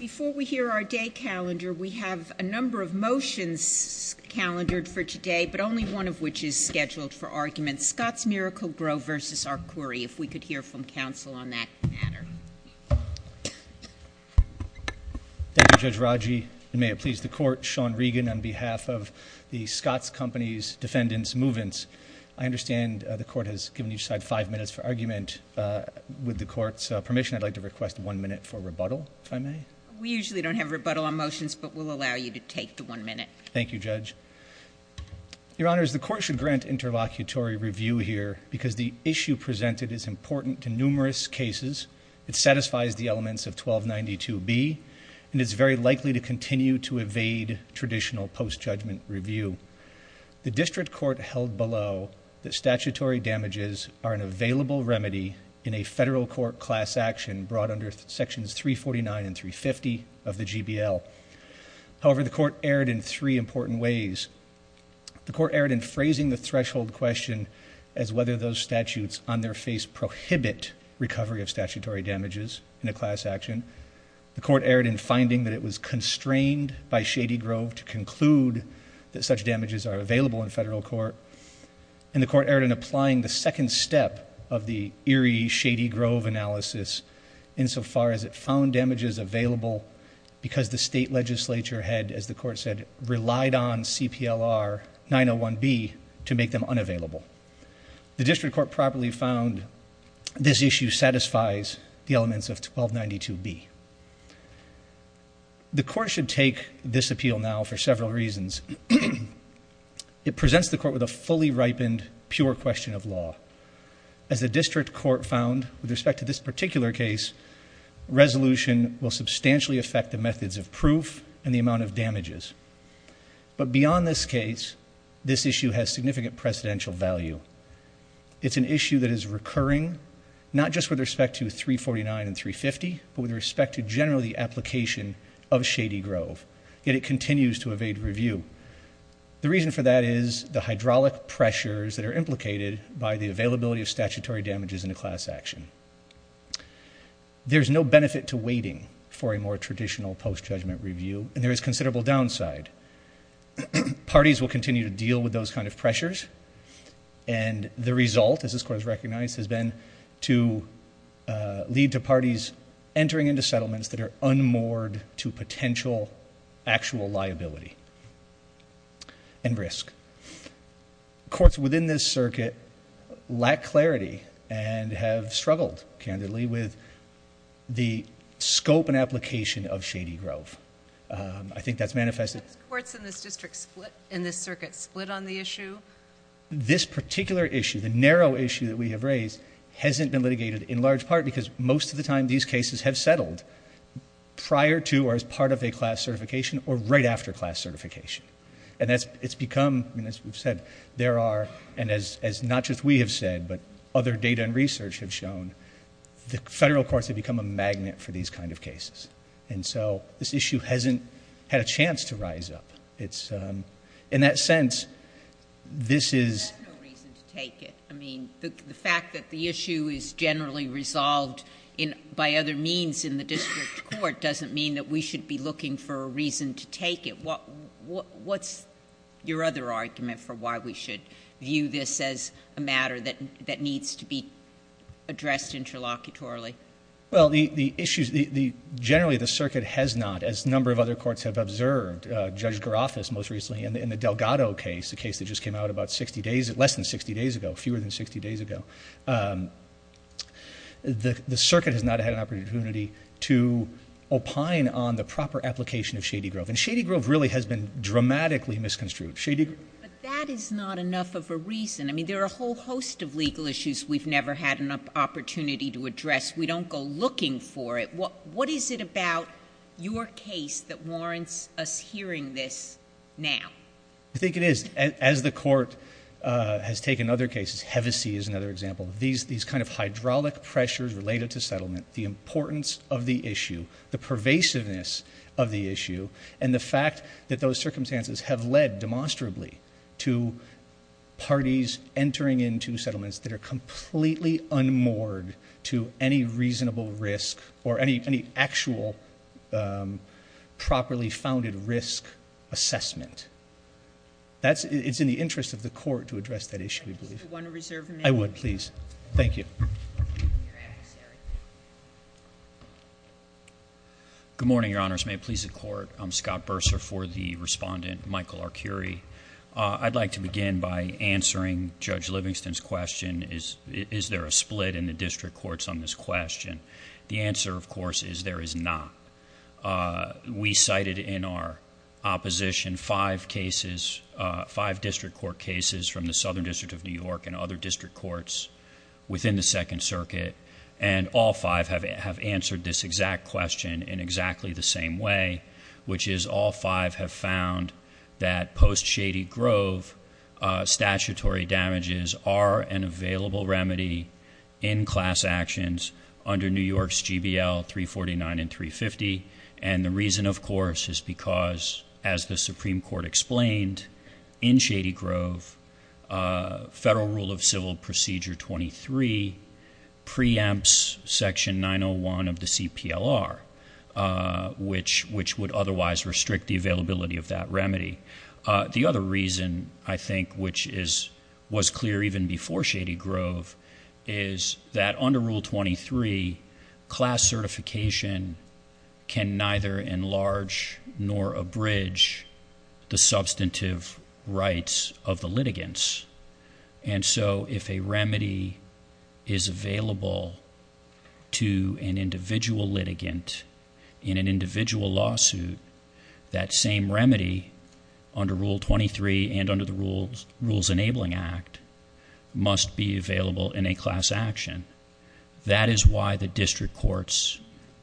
Before we hear our day calendar, we have a number of motions calendared for today, but only one of which is scheduled for argument. Scotts Miracle-Gro versus Arcuri, if we could hear from counsel on that matter. Thank you, Judge Raji. May it please the Court, Sean Regan on behalf of the Scotts Company's defendants, Movens. I understand the Court has given each side five minutes for argument. With the Court's permission, I'd like to request one minute for rebuttal, if I may. We usually don't have rebuttal on motions, but we'll allow you to take the one minute. Thank you, Judge. Your Honors, the Court should grant interlocutory review here because the issue presented is important to numerous cases. It satisfies the elements of 1292B, and it's very likely to continue to evade traditional post-judgment review. The District Court held below that statutory damages are an available remedy in a federal court class action brought under Sections 349 and 350 of the GBL. However, the Court erred in three important ways. The Court erred in phrasing the threshold question as whether those statutes on their face prohibit recovery of statutory damages in a class action. The Court erred in finding that it was constrained by Shady Grove to conclude that such damages are available in federal court. And the Court erred in applying the second step of the eerie Shady Grove analysis insofar as it found damages available because the state legislature had, as the Court said, relied on CPLR 901B to make them unavailable. The District Court properly found this issue satisfies the elements of 1292B. The Court should take this appeal now for several reasons. It presents the Court with a fully ripened pure question of law. As the District Court found with respect to this particular case, resolution will substantially affect the methods of proof and the amount of damages. But beyond this case, this issue has significant precedential value. It's an issue that is recurring not just with respect to 349 and 350, but with respect to generally the application of Shady Grove. Yet it continues to evade review. The reason for that is the hydraulic pressures that are implicated by the availability of statutory damages in a class action. There's no benefit to waiting for a more traditional post judgment review, and there is considerable downside. Parties will continue to deal with those kind of pressures, and the result, as this Court has recognized, has been to lead to parties entering into settlements that are unmoored to potential actual liability and risk. Courts within this circuit lack clarity and have struggled, candidly, with the scope and application of Shady Grove. I think that's manifested. Have courts in this district, in this circuit, split on the issue? This particular issue, the narrow issue that we have raised, hasn't been litigated in large part because most of the time these cases have settled prior to or as part of a class certification or right after class certification. It's become, as we've said, there are... and as not just we have said, but other data and research have shown, the federal courts have become a magnet for these kind of cases. This issue hasn't had a chance to rise up. In that sense, this is... That's no reason to take it. The fact that the issue is generally resolved by other means in the district court doesn't mean that we should be looking for a reason to take it. What's your other argument for why we should view this as a matter that needs to be addressed interlocutorily? Well, the issues... generally, the circuit has not, as a number of other courts have observed, Judge Garofis most recently in the Delgado case, the case that just came out about sixty days, less than sixty days ago, fewer than sixty days ago, had not had an opportunity to opine on the proper application of Shady Grove. And Shady Grove really has been dramatically misconstrued. Shady Grove... But that is not enough of a reason. I mean, there are a whole host of legal issues we've never had an opportunity to address. We don't go looking for it. What is it about your case that warrants us hearing this now? I think it is. As the court has taken other cases, Hevesi is another example. These kind of hydraulic pressures related to settlement, the importance of the issue, the pervasiveness of the issue, and the fact that those circumstances have led, demonstrably, to parties entering into settlements that are completely unmoored to any reasonable risk or any actual properly founded risk assessment. That's... it's in the interest of the court to Would you reserve a minute? I would, please. Thank you. Your adversary. Good morning, Your Honors. May it please the Court? I'm Scott Bursar for the Respondent, Michael Arcuri. I'd like to begin by answering Judge Livingston's question, is there a split in the district courts on this question? The answer, of course, is there is not. We cited in our opposition five cases, five district court cases from the Southern District of New York and other district courts within the Second Circuit, and all five have answered this exact question in exactly the same way, which is all five have found that post Shady Grove statutory damages are an available remedy in class actions under New York's GBL 349 and 350. And the reason, of course, is because, as the Supreme Court explained, in Federal Rule of Civil Procedure 23 preempts Section 901 of the CPLR, which would otherwise restrict the availability of that remedy. The other reason, I think, which was clear even before Shady Grove, is that under Rule 23, class certification can neither enlarge nor abridge the and so if a remedy is available to an individual litigant in an individual lawsuit, that same remedy under Rule 23 and under the Rules Rules Enabling Act must be available in a class action. That is why the district courts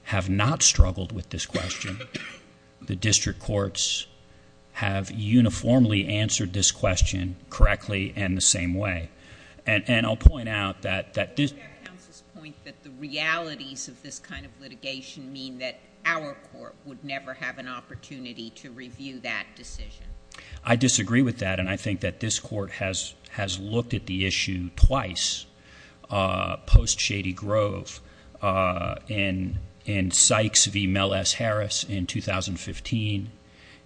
have not struggled with this question. The district courts have uniformly answered this question correctly and the same way. And I'll point out that that this point that the realities of this kind of litigation mean that our court would never have an opportunity to review that decision. I disagree with that, and I think that this court has has looked at the issue twice, uh, post Shady Grove, uh, in in Sykes v. Mel S. Harris in 2015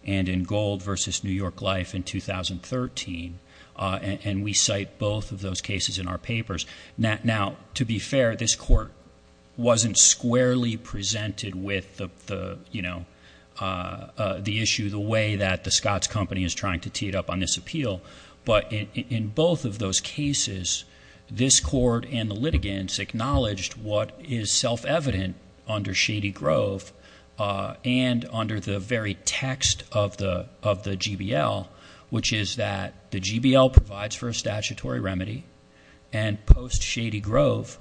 and in Gold v. New York Life in 2013, and we cite both of those cases in our papers. Now, to be fair, this court wasn't squarely presented with the, you know, uh, the issue, the way that the Scotts Company is trying to tee it up on this appeal. But in both of those cases, this court and the litigants acknowledged what is the GBL, which is that the GBL provides for a statutory remedy and post Shady Grove.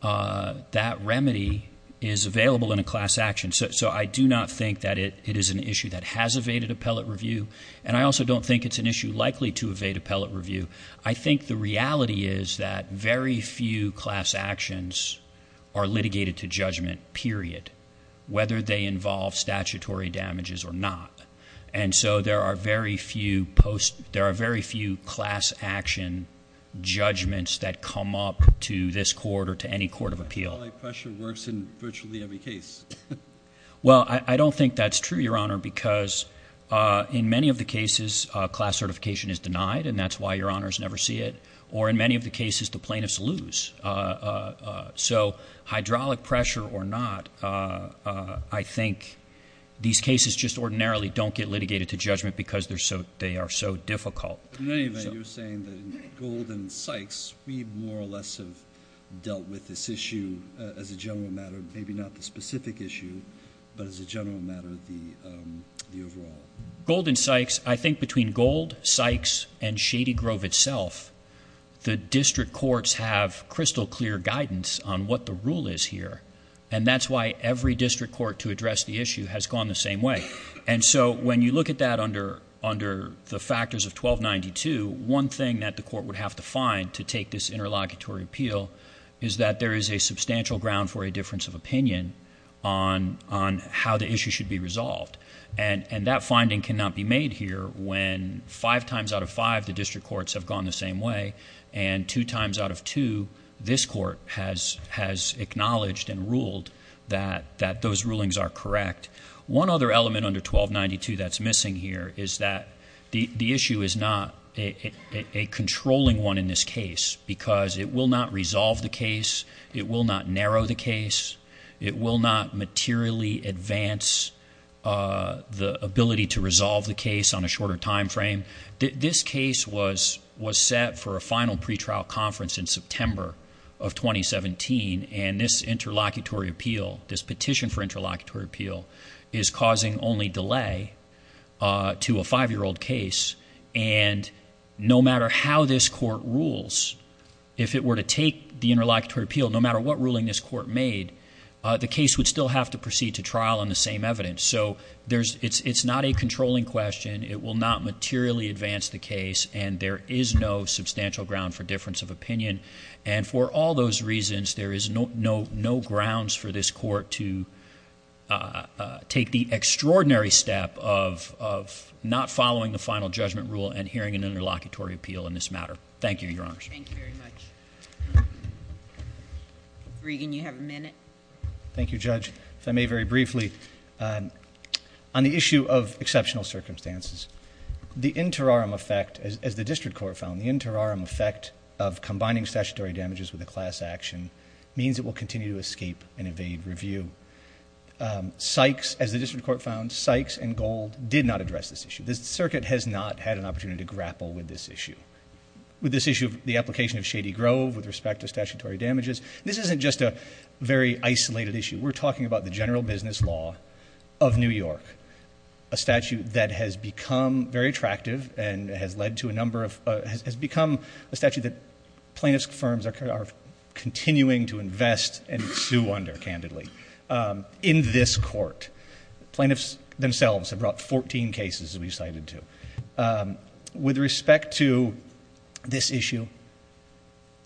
Uh, that remedy is available in a class action. So I do not think that it is an issue that has evaded appellate review, and I also don't think it's an issue likely to evade appellate review. I think the reality is that very few class actions are litigated to judgment, period, whether they involve statutory damages or not. And so there are very few post. There are very few class action judgments that come up to this court or to any court of appeal. Pressure works in virtually every case. Well, I don't think that's true, Your Honor, because, uh, in many of the cases, class certification is denied, and that's why your honors never see it. Or in many of the cases, the plaintiffs lose. Uh, so hydraulic pressure or not, uh, I think these cases just ordinarily don't get litigated to judgment because they're so they are so difficult. You're saying that Golden Sykes, we more or less have dealt with this issue as a general matter, maybe not the specific issue, but as a general matter, the overall Golden Sykes. I think between gold Sykes and have crystal clear guidance on what the rule is here, and that's why every district court to address the issue has gone the same way. And so when you look at that under under the factors of 12 92, one thing that the court would have to find to take this interlocutory appeal is that there is a substantial ground for a difference of opinion on on how the issue should be resolved. And that finding cannot be made here. When five times out of five, the district this court has has acknowledged and ruled that that those rulings are correct. One other element under 12 92 that's missing here is that the issue is not a controlling one in this case because it will not resolve the case. It will not narrow the case. It will not materially advance, uh, the ability to resolve the case on a shorter time frame. This case was was set for a of 2017, and this interlocutory appeal, this petition for interlocutory appeal is causing only delay, uh, to a five year old case. And no matter how this court rules, if it were to take the interlocutory appeal, no matter what ruling this court made, the case would still have to proceed to trial in the same evidence. So there's it's it's not a controlling question. It will not materially advance the case, and there is no substantial ground for difference of opinion. And for all those reasons, there is no, no, no grounds for this court to, uh, take the extraordinary step of of not following the final judgment rule and hearing an interlocutory appeal in this matter. Thank you, Your Honor. Thank you very much. Regan, you have a minute. Thank you, Judge. If I may very briefly, um, on the issue of exceptional circumstances, the interim effect as the district court found the interim effect of combining statutory damages with a class action means it will continue to escape and evade review. Um, Sykes, as the district court found Sykes and Gold did not address this issue. This circuit has not had an opportunity to grapple with this issue with this issue of the application of Shady Grove with respect to statutory damages. This isn't just a very isolated issue. We're talking about the general business law of New York, a statute that has become very attractive and has led to a has become a statute that plaintiff's firms are continuing to invest and sue under candidly. Um, in this court, plaintiffs themselves have brought 14 cases that we've cited to, um, with respect to this issue,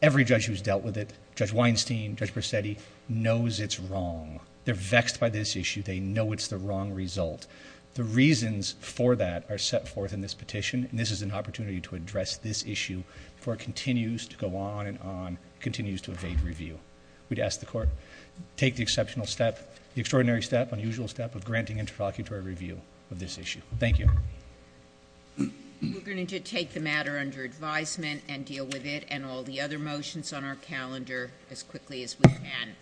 every judge who's dealt with it, Judge Weinstein, Judge Presetti knows it's wrong. They're vexed by this issue. They know it's the wrong result. The reasons for that are set forth in this petition, and this is an opportunity to address this issue for continues to go on and on continues to evade review. We'd ask the court take the exceptional step, the extraordinary step, unusual step of granting interlocutory review of this issue. Thank you. We're going to take the matter under advisement and deal with it and all the other motions on our calendar as quickly as we can.